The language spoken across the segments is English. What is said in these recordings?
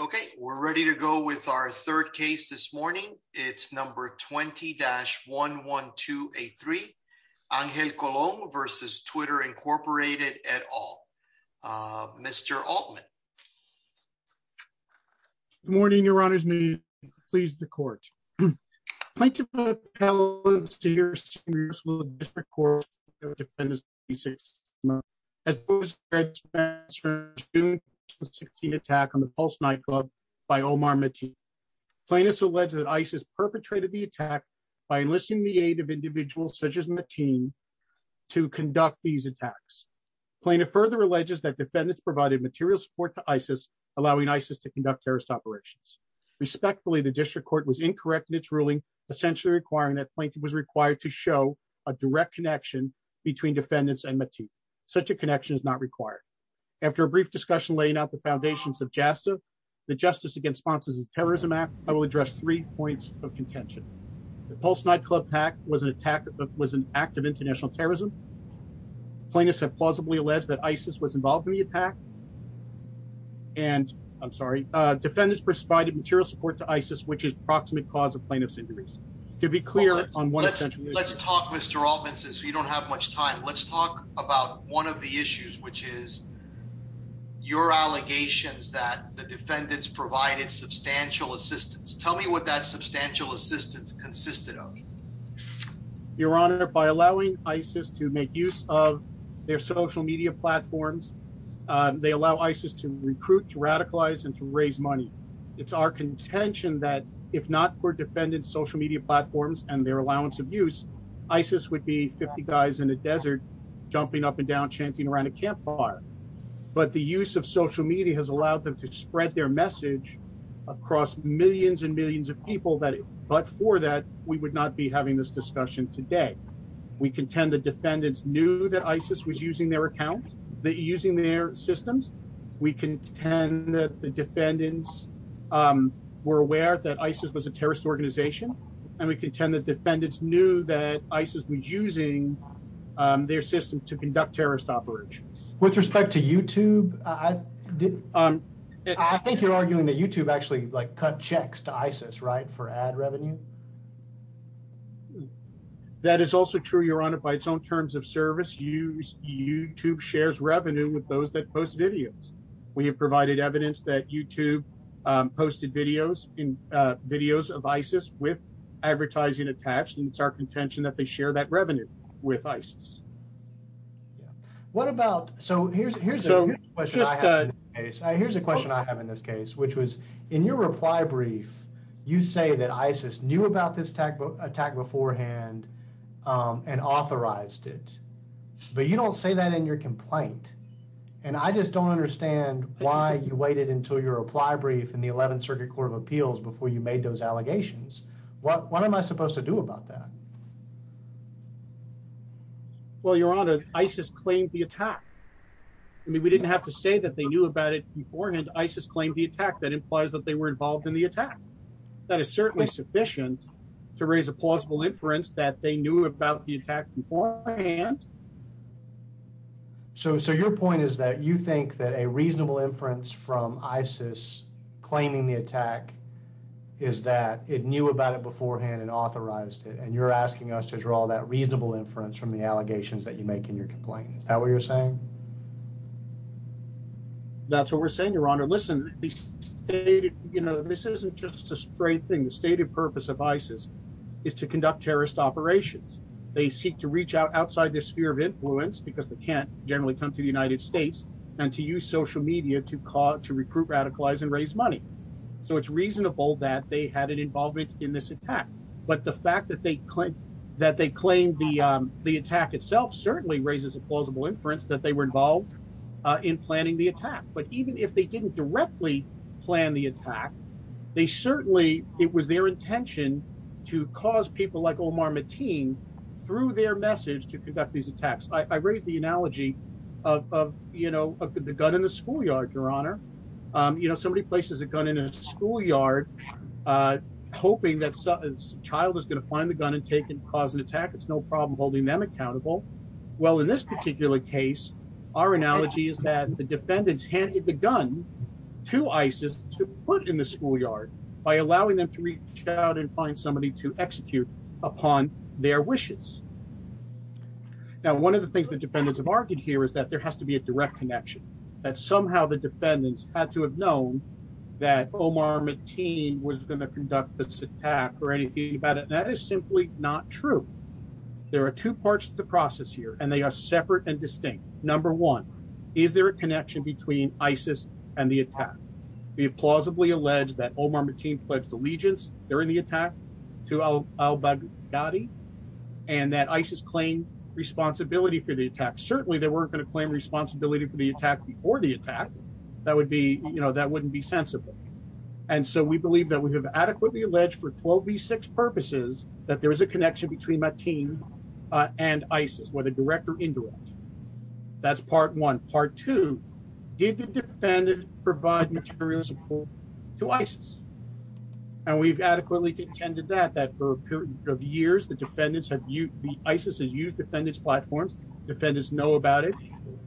Okay, we're ready to go with our third case this morning. It's number 20-11283, Angel Colon v. Twitter, Inc. et al. Mr. Altman. Good morning, your honors. May you please the court. Plaintiff appellants to your senior school district court of defendants of the 2016 attack on the Pulse nightclub by Omar Mateen. Plaintiff alleges that ISIS perpetrated the attack by enlisting the aid of individuals such as Mateen to conduct these attacks. Plaintiff further alleges that defendants provided material support to ISIS, allowing ISIS to conduct terrorist operations. Respectfully, the district court was incorrect in its ruling, essentially requiring that plaintiff was required to show a direct connection between defendants and Mateen. Such a connection is not required. After a brief discussion laying out the foundations of JASTA, the Justice Against Sponsors of Terrorism Act, I will address three points of contention. The Pulse nightclub attack was an act of international terrorism. Plaintiffs have plausibly alleged that ISIS was involved in the attack. Defendants provided material support to ISIS, which is the proximate cause of plaintiff's injuries. Let's talk, Mr. Altman, since we don't have much time. Let's talk about one of the issues, which is your allegations that the defendants provided substantial assistance. Tell me what that substantial assistance consisted of. Your Honor, by allowing ISIS to make use of their social media platforms, they allow ISIS to recruit, to radicalize and to raise money. It's our contention that if not for defendants' social media platforms and their allowance of use, ISIS would be 50 guys in a desert jumping up and down, chanting around a campfire. But the use of social media has allowed them to spread their message across millions and millions of people. But for that, we would not be having this discussion today. We contend the defendants knew that ISIS was using their account, using their systems. We contend that the defendants were aware that ISIS was a terrorist organization. And we contend that defendants knew that ISIS was using their system to conduct terrorist operations. With respect to YouTube, I think you're arguing that YouTube actually cut checks to ISIS, right, for ad revenue? That is also true, Your Honor, by its own terms of service. YouTube shares revenue with those that post videos. We have provided evidence that YouTube posted videos of ISIS with advertising attached. And it's our contention that they share that revenue with ISIS. So here's a question I have in this case, which was, in your reply brief, you say that ISIS knew about this attack beforehand and authorized it. But you don't say that in your complaint. And I just don't understand why you waited until your reply brief in the 11th Circuit Court of Appeals before you made those allegations. What am I supposed to do about that? Well, Your Honor, ISIS claimed the attack. I mean, we didn't have to say that they knew about it beforehand. ISIS claimed the attack. That implies that they were involved in the attack. That is certainly sufficient to raise a plausible inference that they knew about the attack beforehand. So your point is that you think that a reasonable inference from ISIS claiming the attack is that it knew about it beforehand and authorized it. And you're asking us to draw that reasonable inference from the allegations that you make in your complaint. Is that what you're saying? That's what we're saying, Your Honor. Listen, this isn't just a straight thing. The stated purpose of ISIS is to conduct terrorist operations. They seek to reach out outside the sphere of influence because they can't generally come to the United States and to use social media to recruit, radicalize and raise money. So it's reasonable that they had an involvement in this attack. But the fact that they claim that they claimed the attack itself certainly raises a plausible inference that they were involved in planning the attack. But even if they didn't directly plan the attack, they certainly it was their intention to cause people like Omar Mateen through their message to conduct these attacks. I raised the analogy of, you know, the gun in the schoolyard, Your Honor. You know, somebody places a gun in a schoolyard, hoping that some child is going to find the gun and take and cause an attack. It's no problem holding them accountable. Well, in this particular case, our analogy is that the defendants handed the gun to ISIS to put in the schoolyard by allowing them to reach out and find somebody to execute upon their wishes. Now, one of the things the defendants have argued here is that there has to be a direct connection, that somehow the defendants had to have known that Omar Mateen was going to conduct this attack or anything about it. That is simply not true. There are two parts to the process here, and they are separate and distinct. Number one, is there a connection between ISIS and the attack? We have plausibly alleged that Omar Mateen pledged allegiance during the attack to al-Baghdadi and that ISIS claimed responsibility for the attack. Certainly, they weren't going to claim responsibility for the attack before the attack. That would be, you know, that wouldn't be sensible. And so we believe that we have adequately alleged for 12 v. 6 purposes that there is a connection between Mateen and ISIS, whether direct or indirect. That's part one. Part two, did the defendants provide material support to ISIS? And we've adequately contended that, that for a period of years the defendants have used, the ISIS has used defendants' platforms, defendants know about it,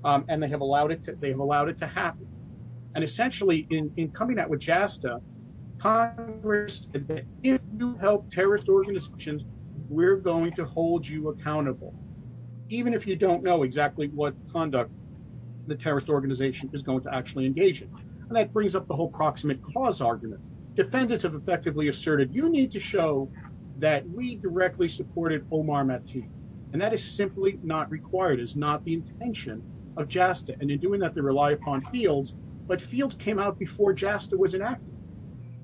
and they have allowed it to happen. And essentially, in coming out with JASTA, Congress said that if you help terrorist organizations, we're going to hold you accountable. Even if you don't know exactly what conduct the terrorist organization is going to actually engage in. And that brings up the whole proximate cause argument. Defendants have effectively asserted, you need to show that we directly supported Omar Mateen. And that is simply not required, is not the intention of JASTA. And in doing that, they rely upon fields. But fields came out before JASTA was enacted.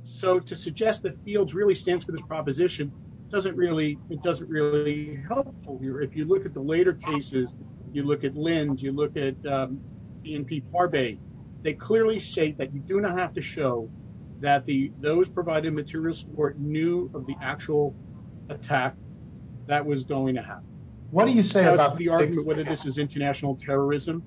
So to suggest that fields really stands for this proposition doesn't really, it doesn't really help. If you look at the later cases, you look at Linds, you look at BNP Parbay, they clearly state that you do not have to show that those provided material support knew of the actual attack that was going to happen. What do you say about the argument whether this is international terrorism?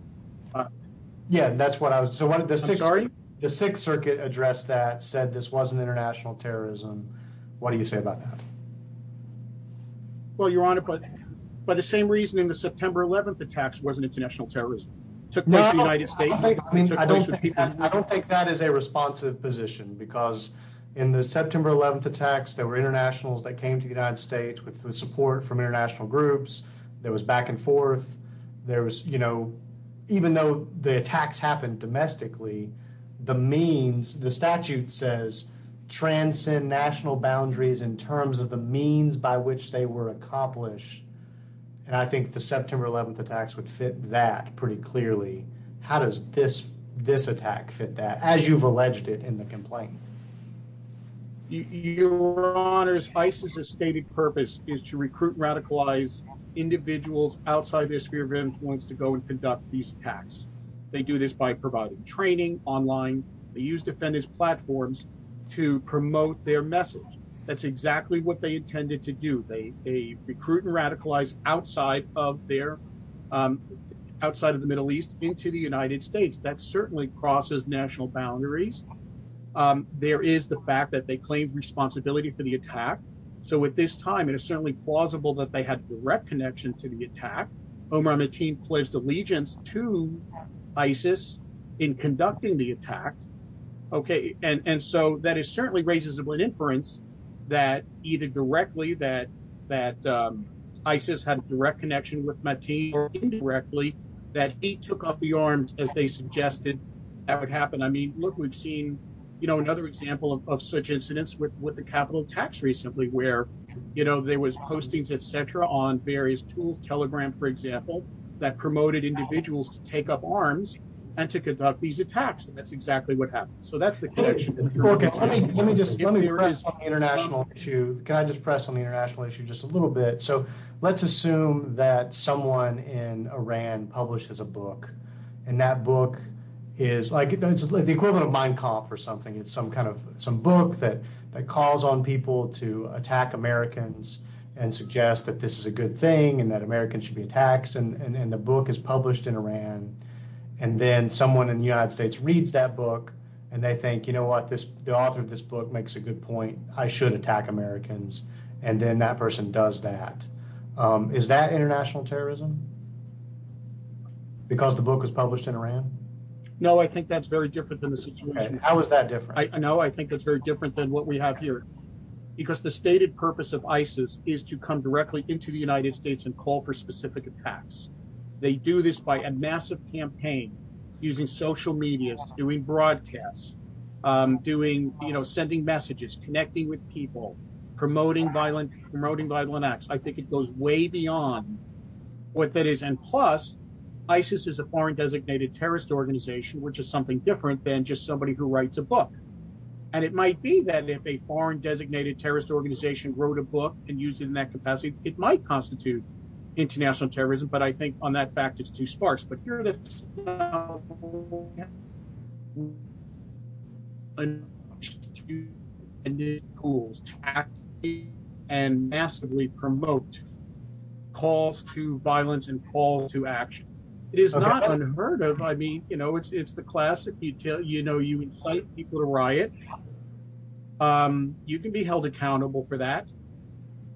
Yeah, that's what I was, so what did the Sixth Circuit address that said this wasn't international terrorism? What do you say about that? Well, Your Honor, but by the same reasoning, the September 11th attacks wasn't international terrorism. Took place in the United States. I don't think that is a responsive position because in the September 11th attacks, there were internationals that came to the United States with support from international groups. There was back and forth. There was, you know, even though the attacks happened domestically, the means the statute says transcend national boundaries in terms of the means by which they were accomplished. And I think the September 11th attacks would fit that pretty clearly. How does this this attack fit that as you've alleged it in the complaint? Your Honor's ISIS's stated purpose is to recruit radicalized individuals outside their sphere of influence to go and conduct these attacks. They do this by providing training online. They use defendants platforms to promote their message. That's exactly what they intended to do. They recruit and radicalize outside of their outside of the Middle East into the United States. That certainly crosses national boundaries. There is the fact that they claim responsibility for the attack. So at this time, it is certainly plausible that they had direct connection to the attack. Omar Mateen pledged allegiance to ISIS in conducting the attack. OK, and so that is certainly raises an inference that either directly that that ISIS had a direct connection with Mateen or indirectly that he took up the arms as they suggested that would happen. I mean, look, we've seen, you know, another example of such incidents with the capital tax recently where, you know, there was postings, et cetera, on various tools. Telegram, for example, that promoted individuals to take up arms and to conduct these attacks. And that's exactly what happened. So that's the connection. OK, let me let me just let me address the international issue. Can I just press on the international issue just a little bit? So let's assume that someone in Iran publishes a book and that book is like the equivalent of Mein Kampf or something. It's some kind of some book that that calls on people to attack Americans and suggest that this is a good thing and that Americans should be taxed. And then the book is published in Iran and then someone in the United States reads that book and they think, you know what, this the author of this book makes a good point. I should attack Americans. And then that person does that. Is that international terrorism? Because the book was published in Iran. No, I think that's very different than the situation. How is that different? I know I think that's very different than what we have here, because the stated purpose of ISIS is to come directly into the United States and call for specific attacks. They do this by a massive campaign using social media, doing broadcasts, doing, you know, sending messages, connecting with people, promoting violent, promoting violent acts. I think it goes way beyond what that is. And plus, ISIS is a foreign designated terrorist organization, which is something different than just somebody who writes a book. And it might be that if a foreign designated terrorist organization wrote a book and used it in that capacity, it might constitute international terrorism. But I think on that fact, it's too sparse. But here it is. And it calls to actively and massively promote calls to violence and calls to action. It is not unheard of. I mean, you know, it's it's the classic you tell you, you know, you incite people to riot. You can be held accountable for that.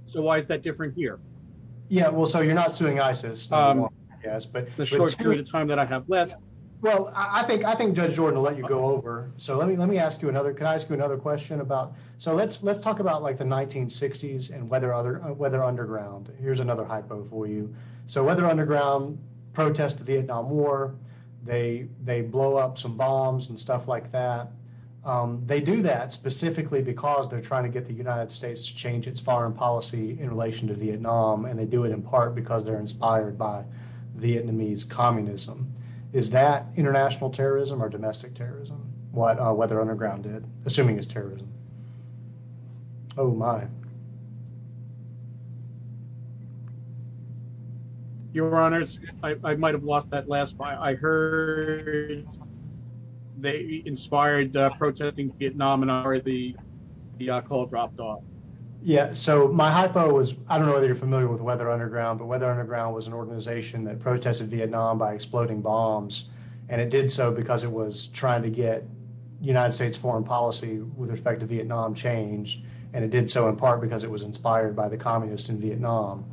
So why is that different here? Yeah, well, so you're not suing ISIS. Yes, but the short period of time that I have left. Well, I think I think Judge Jordan will let you go over. So let me let me ask you another. Can I ask you another question about. So let's let's talk about like the 1960s and whether other whether underground. Here's another hypo for you. So whether underground protests, the Vietnam War, they they blow up some bombs and stuff like that. They do that specifically because they're trying to get the United States to change its foreign policy in relation to Vietnam. And they do it in part because they're inspired by Vietnamese communism. Is that international terrorism or domestic terrorism? What whether underground did assuming is terrorism. Oh, my. Your Honor, I might have lost that last. I heard they inspired protesting Vietnam and already the call dropped off. Yeah. So my hypo was I don't know whether you're familiar with whether underground, but whether underground was an organization that protested Vietnam by exploding bombs. And it did so because it was trying to get United States foreign policy with respect to Vietnam change. And it did so in part because it was inspired by the communists in Vietnam.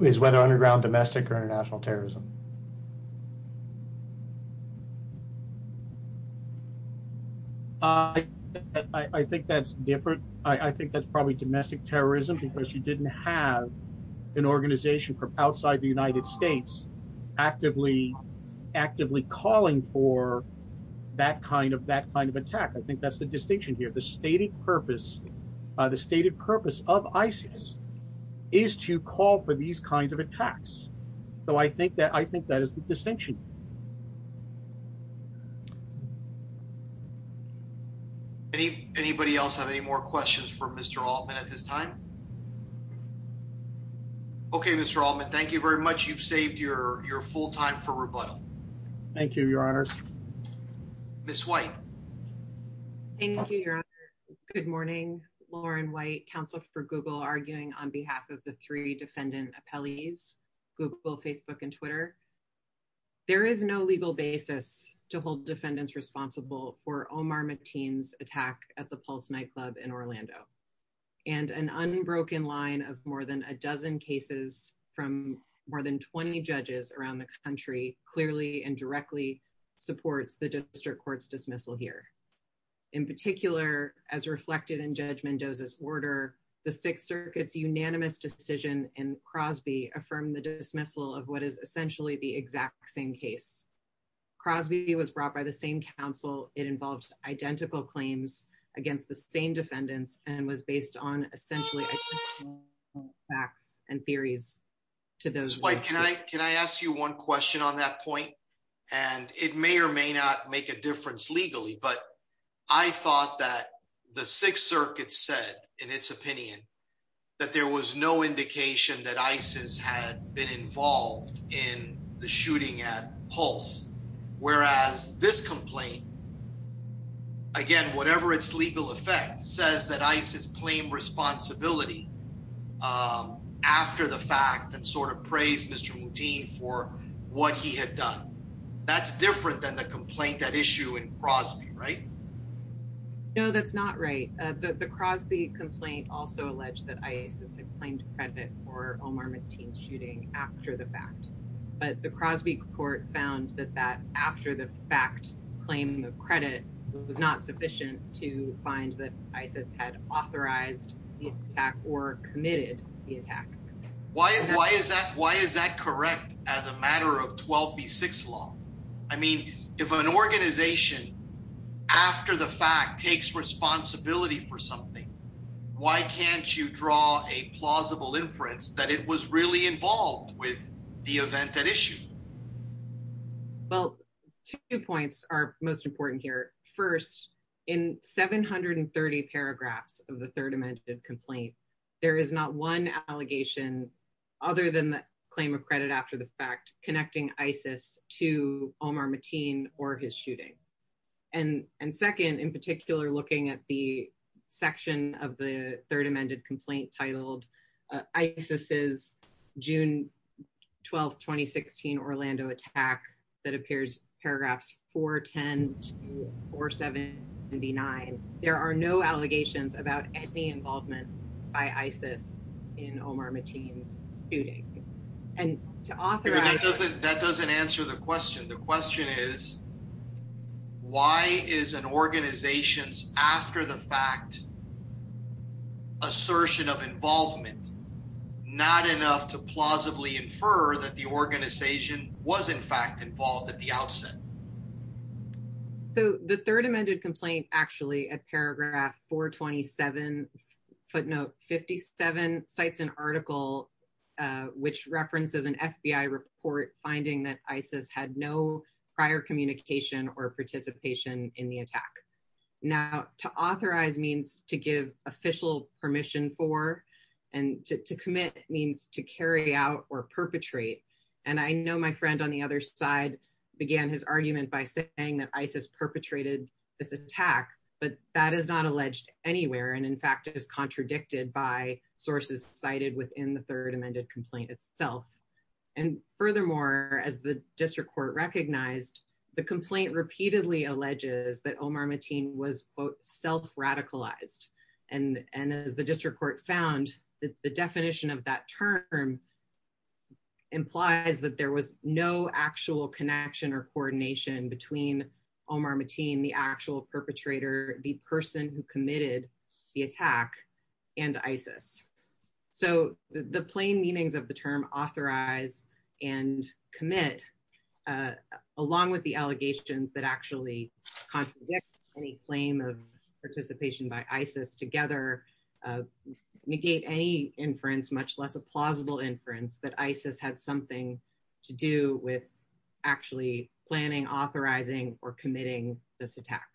Is whether underground domestic or international terrorism. I think that's different. I think that's probably domestic terrorism because you didn't have an organization from outside the United States actively, actively calling for that kind of that kind of attack. I think that's the distinction here. The stated purpose, the stated purpose of ISIS is to call for these kinds of attacks. So I think that I think that is the distinction. Anybody else have any more questions for Mr. Altman at this time? OK, Mr. Altman, thank you very much. You've saved your your full time for rebuttal. Thank you, Your Honor. Ms. White. Thank you, Your Honor. Good morning. Lauren White, counsel for Google, arguing on behalf of the three defendant appellees, Google, Facebook and Twitter. There is no legal basis to hold defendants responsible for Omar Mateen's attack at the Pulse nightclub in Orlando. And an unbroken line of more than a dozen cases from more than 20 judges around the country clearly and directly supports the district court's dismissal here. In particular, as reflected in Judge Mendoza's order, the Sixth Circuit's unanimous decision in Crosby affirmed the dismissal of what is essentially the exact same case. Crosby was brought by the same counsel. It involved identical claims against the same defendants and was based on essentially facts and theories to those. Can I ask you one question on that point? And it may or may not make a difference legally. But I thought that the Sixth Circuit said in its opinion that there was no indication that ISIS had been involved in the shooting at Pulse. Whereas this complaint, again, whatever its legal effect, says that ISIS claimed responsibility after the fact and sort of praised Mr. Muteen for what he had done. That's different than the complaint that issue in Crosby, right? No, that's not right. The Crosby complaint also alleged that ISIS had claimed credit for Omar Muteen's shooting after the fact. But the Crosby court found that that after the fact claim of credit was not sufficient to find that ISIS had authorized the attack or committed the attack. Why is that? Why is that correct as a matter of 12B6 law? I mean, if an organization after the fact takes responsibility for something, why can't you draw a plausible inference that it was really involved with the event at issue? Well, two points are most important here. First, in 730 paragraphs of the Third Amendment complaint, there is not one allegation other than the claim of credit after the fact connecting ISIS to Omar Muteen or his shooting. And second, in particular, looking at the section of the Third Amendment complaint titled ISIS's June 12, 2016 Orlando attack that appears paragraphs 410 to 479, there are no allegations about any involvement by ISIS in Omar Muteen's shooting. That doesn't answer the question. The question is, why is an organization's after the fact assertion of involvement not enough to plausibly infer that the organization was in fact involved at the outset? So the Third Amendment complaint actually at paragraph 427 footnote 57 cites an article which references an FBI report finding that ISIS had no prior communication or participation in the attack. Now, to authorize means to give official permission for and to commit means to carry out or perpetrate. And I know my friend on the other side began his argument by saying that ISIS perpetrated this attack, but that is not alleged anywhere. And in fact, it is contradicted by sources cited within the Third Amendment complaint itself. And furthermore, as the district court recognized, the complaint repeatedly alleges that Omar Muteen was self-radicalized and as the district court found that the definition of that term implies that there was no actual connection or coordination between Omar Muteen, the actual perpetrator, the person who committed the attack, and ISIS. So the plain meanings of the term authorize and commit, along with the allegations that actually contradict any claim of participation by ISIS together, negate any inference, much less a plausible inference that ISIS had something to do with actually planning, authorizing, or committing this attack.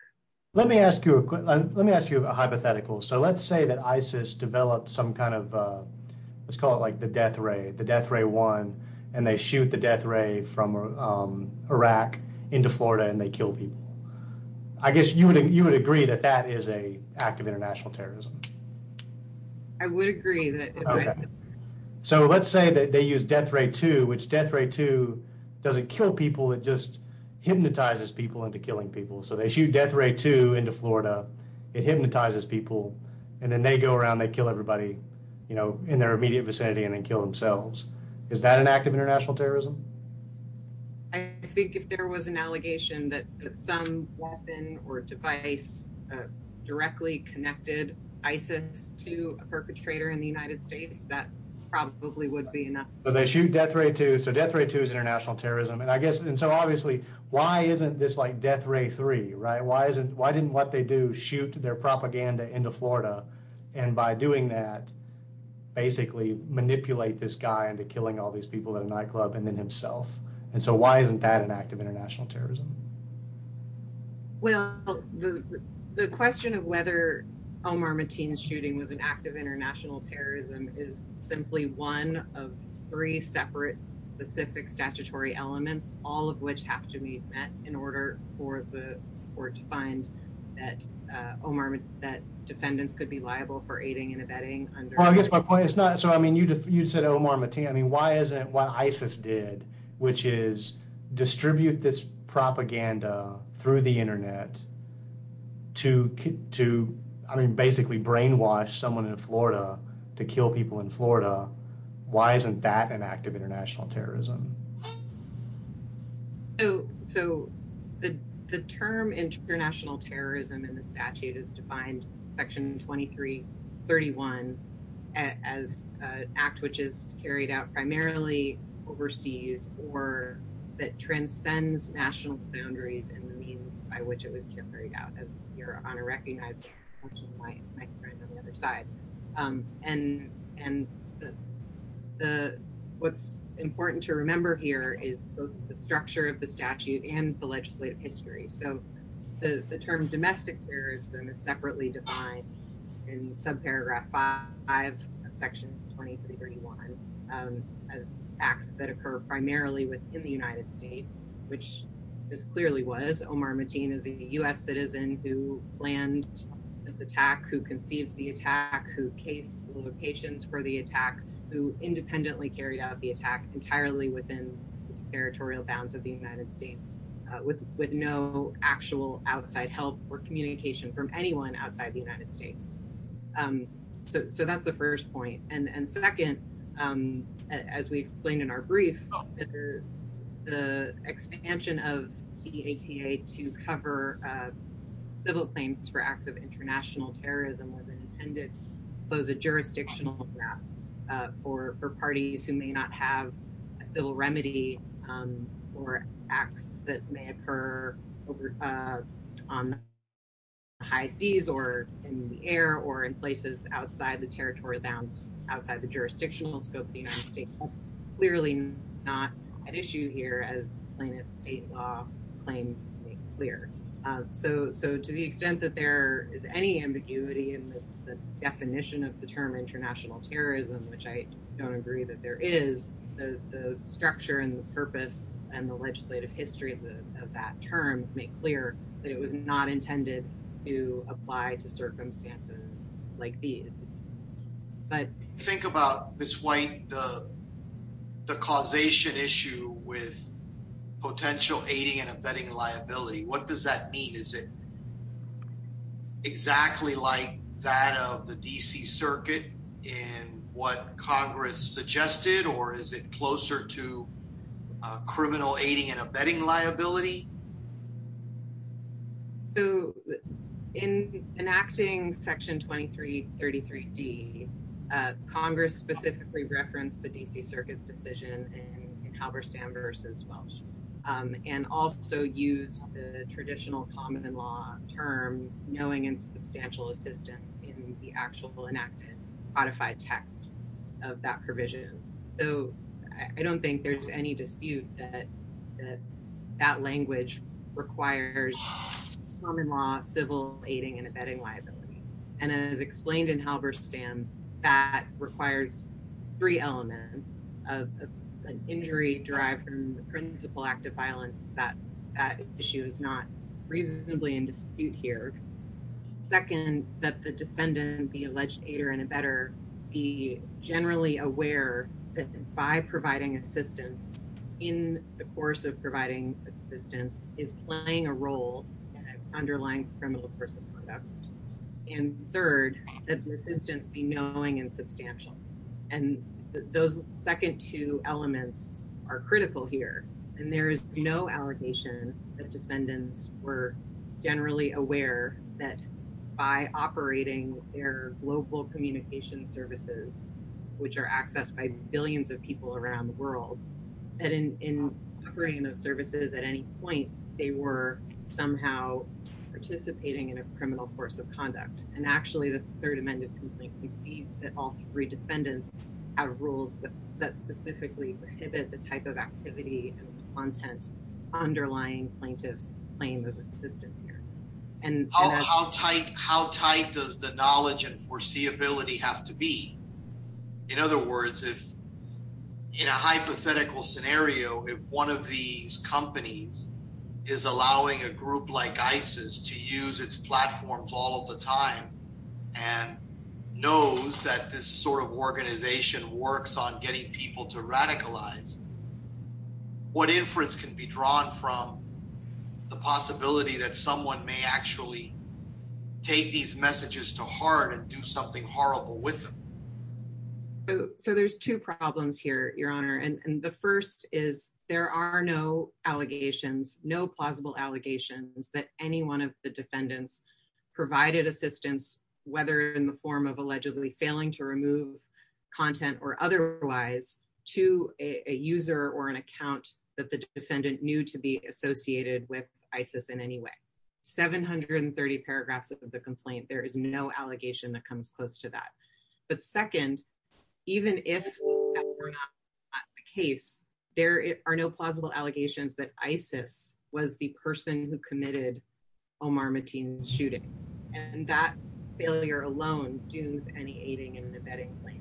Let me ask you a hypothetical. So let's say that ISIS developed some kind of, let's call it like the death ray, the death ray one, and they shoot the death ray from Iraq into Florida and they kill people. I guess you would agree that that is an act of international terrorism. I would agree. So let's say that they use death ray two, which death ray two doesn't kill people, it just hypnotizes people into killing people. So they shoot death ray two into Florida. It hypnotizes people. And then they go around, they kill everybody, you know, in their immediate vicinity and then kill themselves. Is that an act of international terrorism? I think if there was an allegation that some weapon or device directly connected ISIS to a perpetrator in the United States, that probably would be enough. So they shoot death ray two. So death ray two is international terrorism. And so obviously, why isn't this like death ray three, right? Why didn't what they do shoot their propaganda into Florida and by doing that, basically manipulate this guy into killing all these people in a nightclub and then himself? And so why isn't that an act of international terrorism? Well, the question of whether Omar Mateen's shooting was an act of international terrorism is simply one of three separate specific statutory elements, all of which have to be met in order for the court to find that Omar, that defendants could be liable for aiding and abetting. Well, I guess my point is not so. I mean, you said Omar Mateen. I mean, why isn't what ISIS did, which is distribute this propaganda through the Internet to to basically brainwash someone in Florida to kill people in Florida? Why isn't that an act of international terrorism? Oh, so the term international terrorism in the statute is defined section 2331 as an act which is carried out primarily overseas or that transcends national boundaries and the means by which it was carried out as your honor recognized. My friend on the other side and and the the what's important to remember here is the structure of the statute and the legislative history. So the term domestic terrorism is separately defined in subparagraph five of Section 2331 as acts that occur primarily within the United States, which this clearly was Omar Mateen is a U.S. So there was no actual outside help or communication from anyone outside the United States. So that's the first point. And second, as we explained in our brief, the expansion of the ATA to cover civil claims for acts of international terrorism was intended to close a jurisdictional gap for parties who may not have a civil remedy or acts that may occur over on high seas or in the air. Or in places outside the territory bounce outside the jurisdictional scope. The United States clearly not an issue here as plaintiff state law claims clear. So so to the extent that there is any ambiguity in the definition of the term international terrorism, which I don't agree that there is the structure and the purpose and the legislative history of that term make clear that it was not intended to apply to circumstances like these. But think about this white, the causation issue with potential aiding and abetting liability. What does that mean? Is it exactly like that of the D.C. circuit in what Congress suggested, or is it closer to criminal aiding and abetting liability? So in enacting Section 2333 D, Congress specifically referenced the D.C. Circuit's decision in Halberstam versus Welsh and also used the traditional common law term knowing and substantial assistance in the actual enacted codified text of that provision. So I don't think there's any dispute that that language requires common law, civil aiding and abetting liability. And as explained in Halberstam, that requires three elements of an injury derived from the principal act of violence that that issue is not reasonably in dispute here. Second, that the defendant, the alleged aider and abetter, be generally aware that by providing assistance in the course of providing assistance is playing a role in an underlying criminal course of conduct. And third, that the assistance be knowing and substantial. And those second two elements are critical here. And there is no allegation that defendants were generally aware that by operating their global communication services, which are accessed by billions of people around the world, that in operating those services at any point, they were somehow participating in a criminal course of conduct. And actually, the Third Amendment completely cedes that all three defendants have rules that specifically prohibit the type of activity and content underlying plaintiff's claim of assistance here. How tight does the knowledge and foreseeability have to be? In other words, if in a hypothetical scenario, if one of these companies is allowing a group like ISIS to use its platforms all the time and knows that this sort of organization works on getting people to radicalize. What inference can be drawn from the possibility that someone may actually take these messages to heart and do something horrible with them? So there's two problems here, Your Honor. And the first is there are no allegations, no plausible allegations that any one of the defendants provided assistance, whether in the form of allegedly failing to remove content or otherwise, to a user or an account that the defendant knew to be associated with ISIS in any way. 730 paragraphs of the complaint. There is no allegation that comes close to that. But second, even if that were not the case, there are no plausible allegations that ISIS was the person who committed Omar Mateen's shooting. And that failure alone dooms any aiding and abetting claim.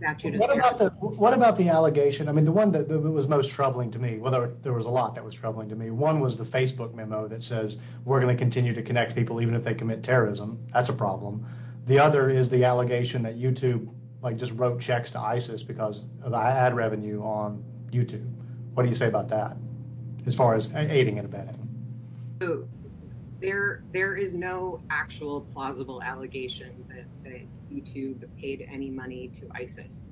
What about the allegation? I mean, the one that was most troubling to me, well, there was a lot that was troubling to me. One was the Facebook memo that says we're going to continue to connect people even if they commit terrorism. That's a problem. The other is the allegation that YouTube just wrote checks to ISIS because of the ad revenue on YouTube. What do you say about that as far as aiding and abetting? There is no actual plausible allegation that YouTube paid any money to ISIS.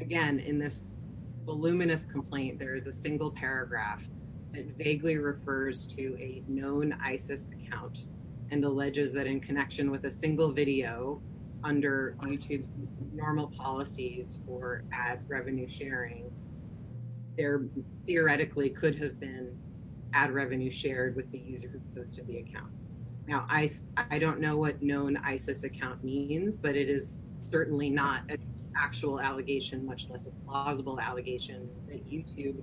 Again, in this voluminous complaint, there is a single paragraph that vaguely refers to a known ISIS account and alleges that in connection with a single video under YouTube's normal policies for ad revenue sharing, there theoretically could have been ad revenue shared with the user who posted the account. Now, I don't know what known ISIS account means, but it is certainly not an actual allegation, much less a plausible allegation that YouTube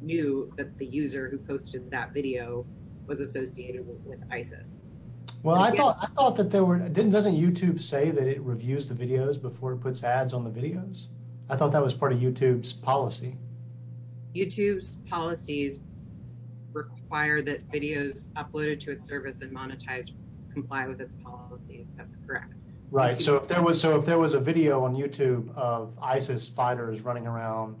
knew that the user who posted that video was associated with ISIS. Well, I thought that there were, doesn't YouTube say that it reviews the videos before it puts ads on the videos? I thought that was part of YouTube's policy. YouTube's policies require that videos uploaded to its service and monetized comply with its policies. That's correct. Right, so if there was a video on YouTube of ISIS fighters running around,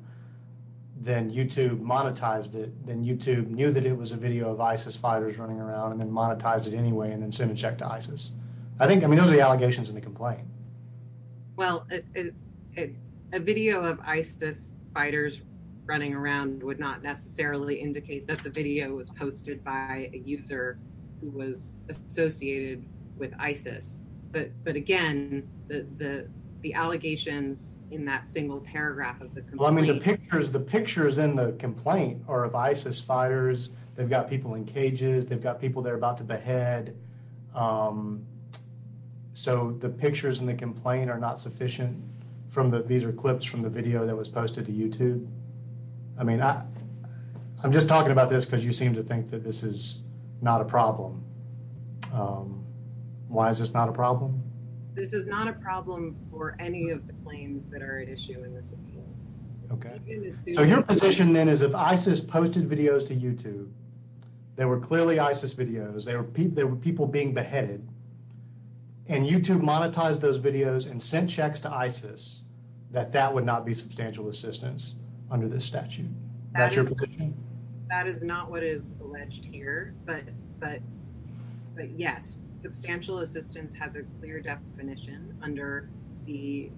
then YouTube monetized it, then YouTube knew that it was a video of ISIS fighters running around and then monetized it anyway and then sent a check to ISIS. I think, I mean, those are the allegations in the complaint. Well, a video of ISIS fighters running around would not necessarily indicate that the video was posted by a user who was associated with ISIS, but again, the allegations in that single paragraph of the complaint. The pictures in the complaint are of ISIS fighters. They've got people in cages. They've got people they're about to behead. So, the pictures in the complaint are not sufficient from the, these are clips from the video that was posted to YouTube. I mean, I'm just talking about this because you seem to think that this is not a problem. Why is this not a problem? This is not a problem for any of the claims that are at issue in this appeal. So, your position then is if ISIS posted videos to YouTube, they were clearly ISIS videos, there were people being beheaded, and YouTube monetized those videos and sent checks to ISIS, that that would not be substantial assistance under this statute. Is that your position? That is not what is alleged here, but yes, substantial assistance has a clear definition under the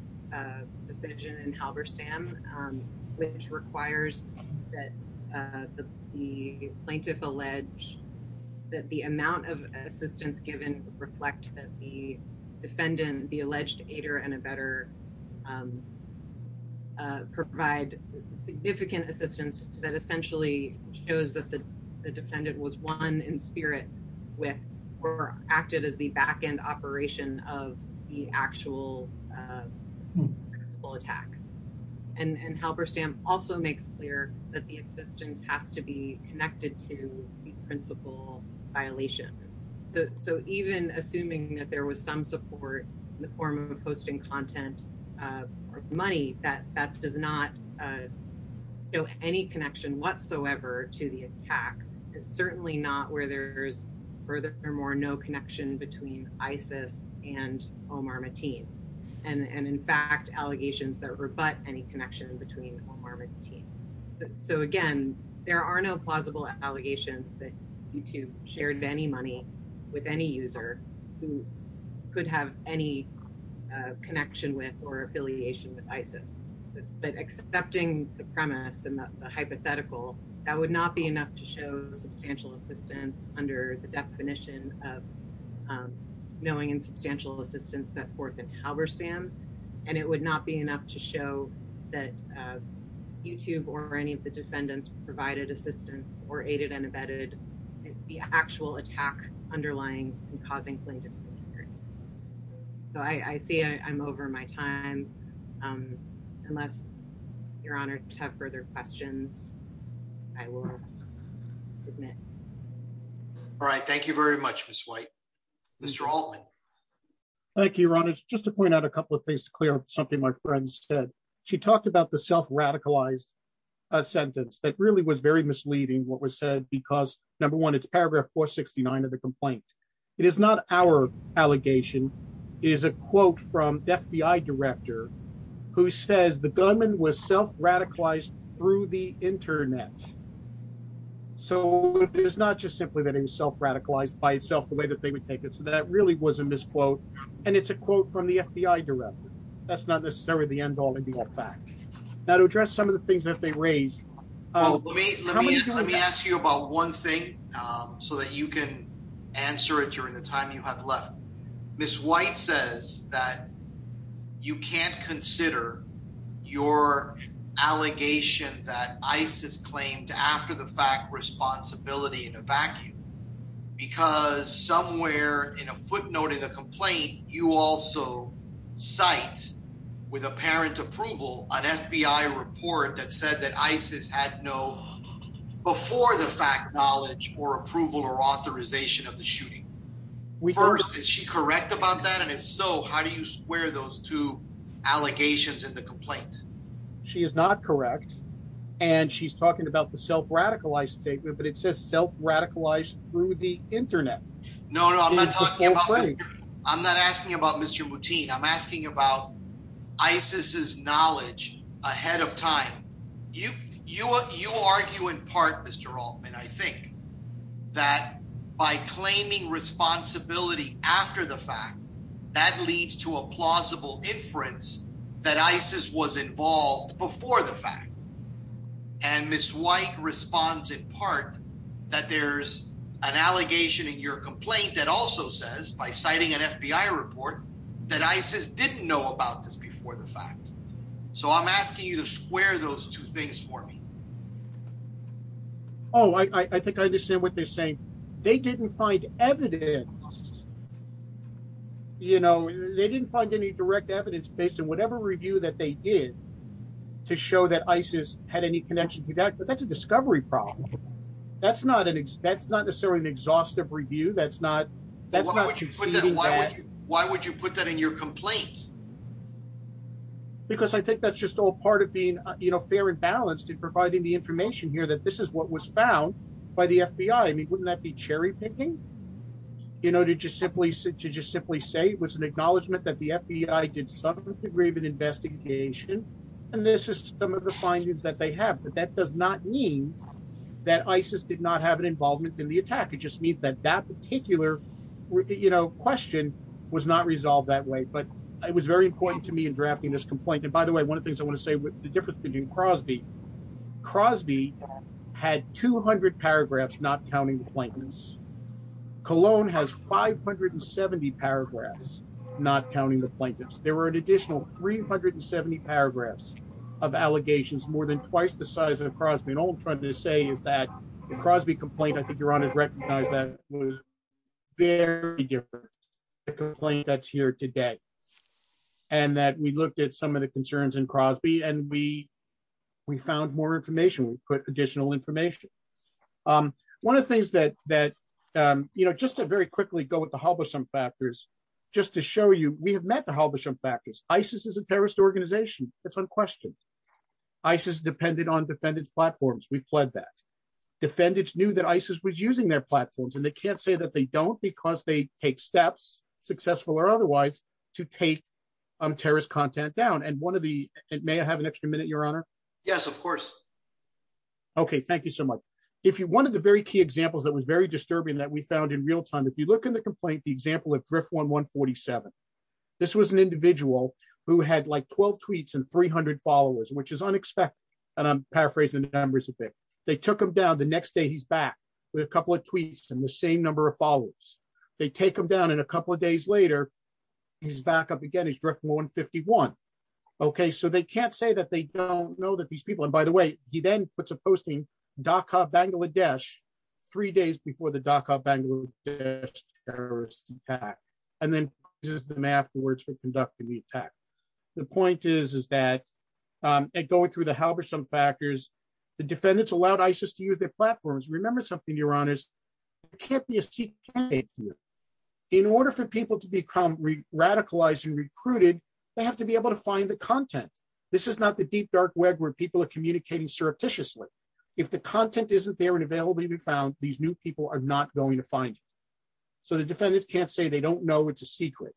decision in Halberstam, which requires that the plaintiff allege that the amount of assistance given reflect that the defendant, the alleged aider and abettor, provide significant assistance that essentially shows that the defendant was one in spirit with or acted as the back end operation of the actual attack. And Halberstam also makes clear that the assistance has to be connected to the principal violation. So, even assuming that there was some support in the form of hosting content or money that does not show any connection whatsoever to the attack, it's certainly not where there's furthermore no connection between ISIS and Omar Mateen. And in fact, allegations that rebut any connection between Omar Mateen. So again, there are no plausible allegations that YouTube shared any money with any user who could have any connection with or affiliation with ISIS. But accepting the premise and the hypothetical, that would not be enough to show substantial assistance under the definition of knowing and substantial assistance set forth in Halberstam. And it would not be enough to show that YouTube or any of the defendants provided assistance or aided and abetted the actual attack underlying and causing plaintiffs. So I see I'm over my time. Unless you're honored to have further questions. I will admit. All right. Thank you very much. Mr. Thank you. Just to point out a couple of things to clear up something my friends said she talked about the self radicalized sentence that really was very misleading what was said because number one it's paragraph 469 of the complaint. It is not our allegation is a quote from FBI director, who says the government was self radicalized through the Internet. So, it's not just simply that it was self radicalized by itself the way that they would take it so that really was a misquote. And it's a quote from the FBI director. That's not necessarily the end all and be all fact that address some of the things that they raised. Let me ask you about one thing so that you can answer it during the time you have left. Miss White says that you can't consider your allegation that ISIS claimed after the fact responsibility in a vacuum because somewhere in a footnote in the complaint. You also site with a parent approval on FBI report that said that ISIS had no before the fact knowledge or approval or authorization of the shooting. We first is she correct about that? And if so, how do you square those two allegations in the complaint? She is not correct and she's talking about the self radicalized statement, but it says self radicalized through the Internet. No, no, I'm not talking about. I'm not asking about Mr routine. I'm asking about. Isis is knowledge ahead of time. You, you, you argue in part Mr Altman. I think that by claiming responsibility after the fact that leads to a plausible inference that ISIS was involved before the fact. And Miss White responds in part that there's an allegation in your complaint that also says by citing an FBI report that I says didn't know about this before the fact. So I'm asking you to square those two things for me. Oh, I think I understand what they're saying. They didn't find evidence. You know, they didn't find any direct evidence based on whatever review that they did to show that Isis had any connection to that, but that's a discovery problem. That's not an expense, not necessarily an exhaustive review. That's not that's not. Why would you put that in your complaints? Because I think that's just all part of being fair and balanced in providing the information here that this is what was found by the FBI. I mean, wouldn't that be cherry picking, you know, to just simply sit to just simply say it was an acknowledgement that the FBI did some degree of an investigation. And this is some of the findings that they have, but that does not mean that Isis did not have an involvement in the attack. It just means that that particular question was not resolved that way. But it was very important to me in drafting this complaint. And by the way, one of the things I want to say with the difference between Crosby. Crosby had 200 paragraphs not counting the plaintiffs. Cologne has 570 paragraphs not counting the plaintiffs. There were an additional 370 paragraphs of allegations more than twice the size of Crosby. I mean, all I'm trying to say is that the Crosby complaint, I think Your Honor has recognized that was very different than the complaint that's here today. And that we looked at some of the concerns in Crosby and we we found more information, we put additional information. One of the things that that, you know, just to very quickly go with the Halberstam factors, just to show you, we have met the Halberstam factors. Isis is a terrorist organization. That's unquestioned. Isis depended on defendant's platforms. We've pled that. Defendants knew that Isis was using their platforms and they can't say that they don't because they take steps, successful or otherwise, to take terrorist content down. And one of the, may I have an extra minute, Your Honor? Yes, of course. Okay, thank you so much. If you, one of the very key examples that was very disturbing that we found in real time, if you look in the complaint, the example of Drift1147, this was an individual who had like 12 tweets and 300 followers, which is unexpected. And I'm paraphrasing the numbers a bit. They took him down, the next day he's back with a couple of tweets and the same number of followers. They take him down and a couple of days later, he's back up again, he's Drift1151. Okay, so they can't say that they don't know that these people, and by the way, he then puts a posting, Dhaka, Bangladesh, three days before the Dhaka, Bangladesh terrorist attack. And then uses them afterwards for conducting the attack. The point is, is that going through the Halberstam factors, the defendants allowed Isis to use their platforms. Remember something, Your Honors, there can't be a secret candidate here. In order for people to become radicalized and recruited, they have to be able to find the content. This is not the deep dark web where people are communicating surreptitiously. If the content isn't there and available to be found, these new people are not going to find it. So the defendants can't say they don't know it's a secret.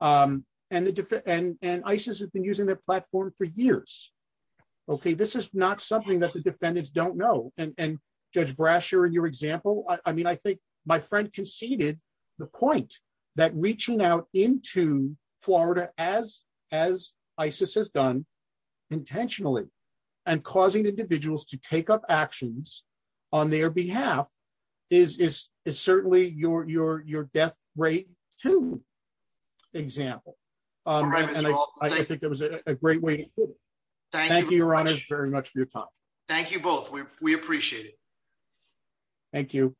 And Isis has been using their platform for years. Okay, this is not something that the defendants don't know. And Judge Brasher, in your example, I mean, I think my friend conceded the point that reaching out into Florida as Isis has done intentionally and causing individuals to take up actions on their behalf is certainly your death rate too example. I think that was a great way to put it. Thank you, Your Honors, very much for your time. Thank you both. We appreciate it. Thank you.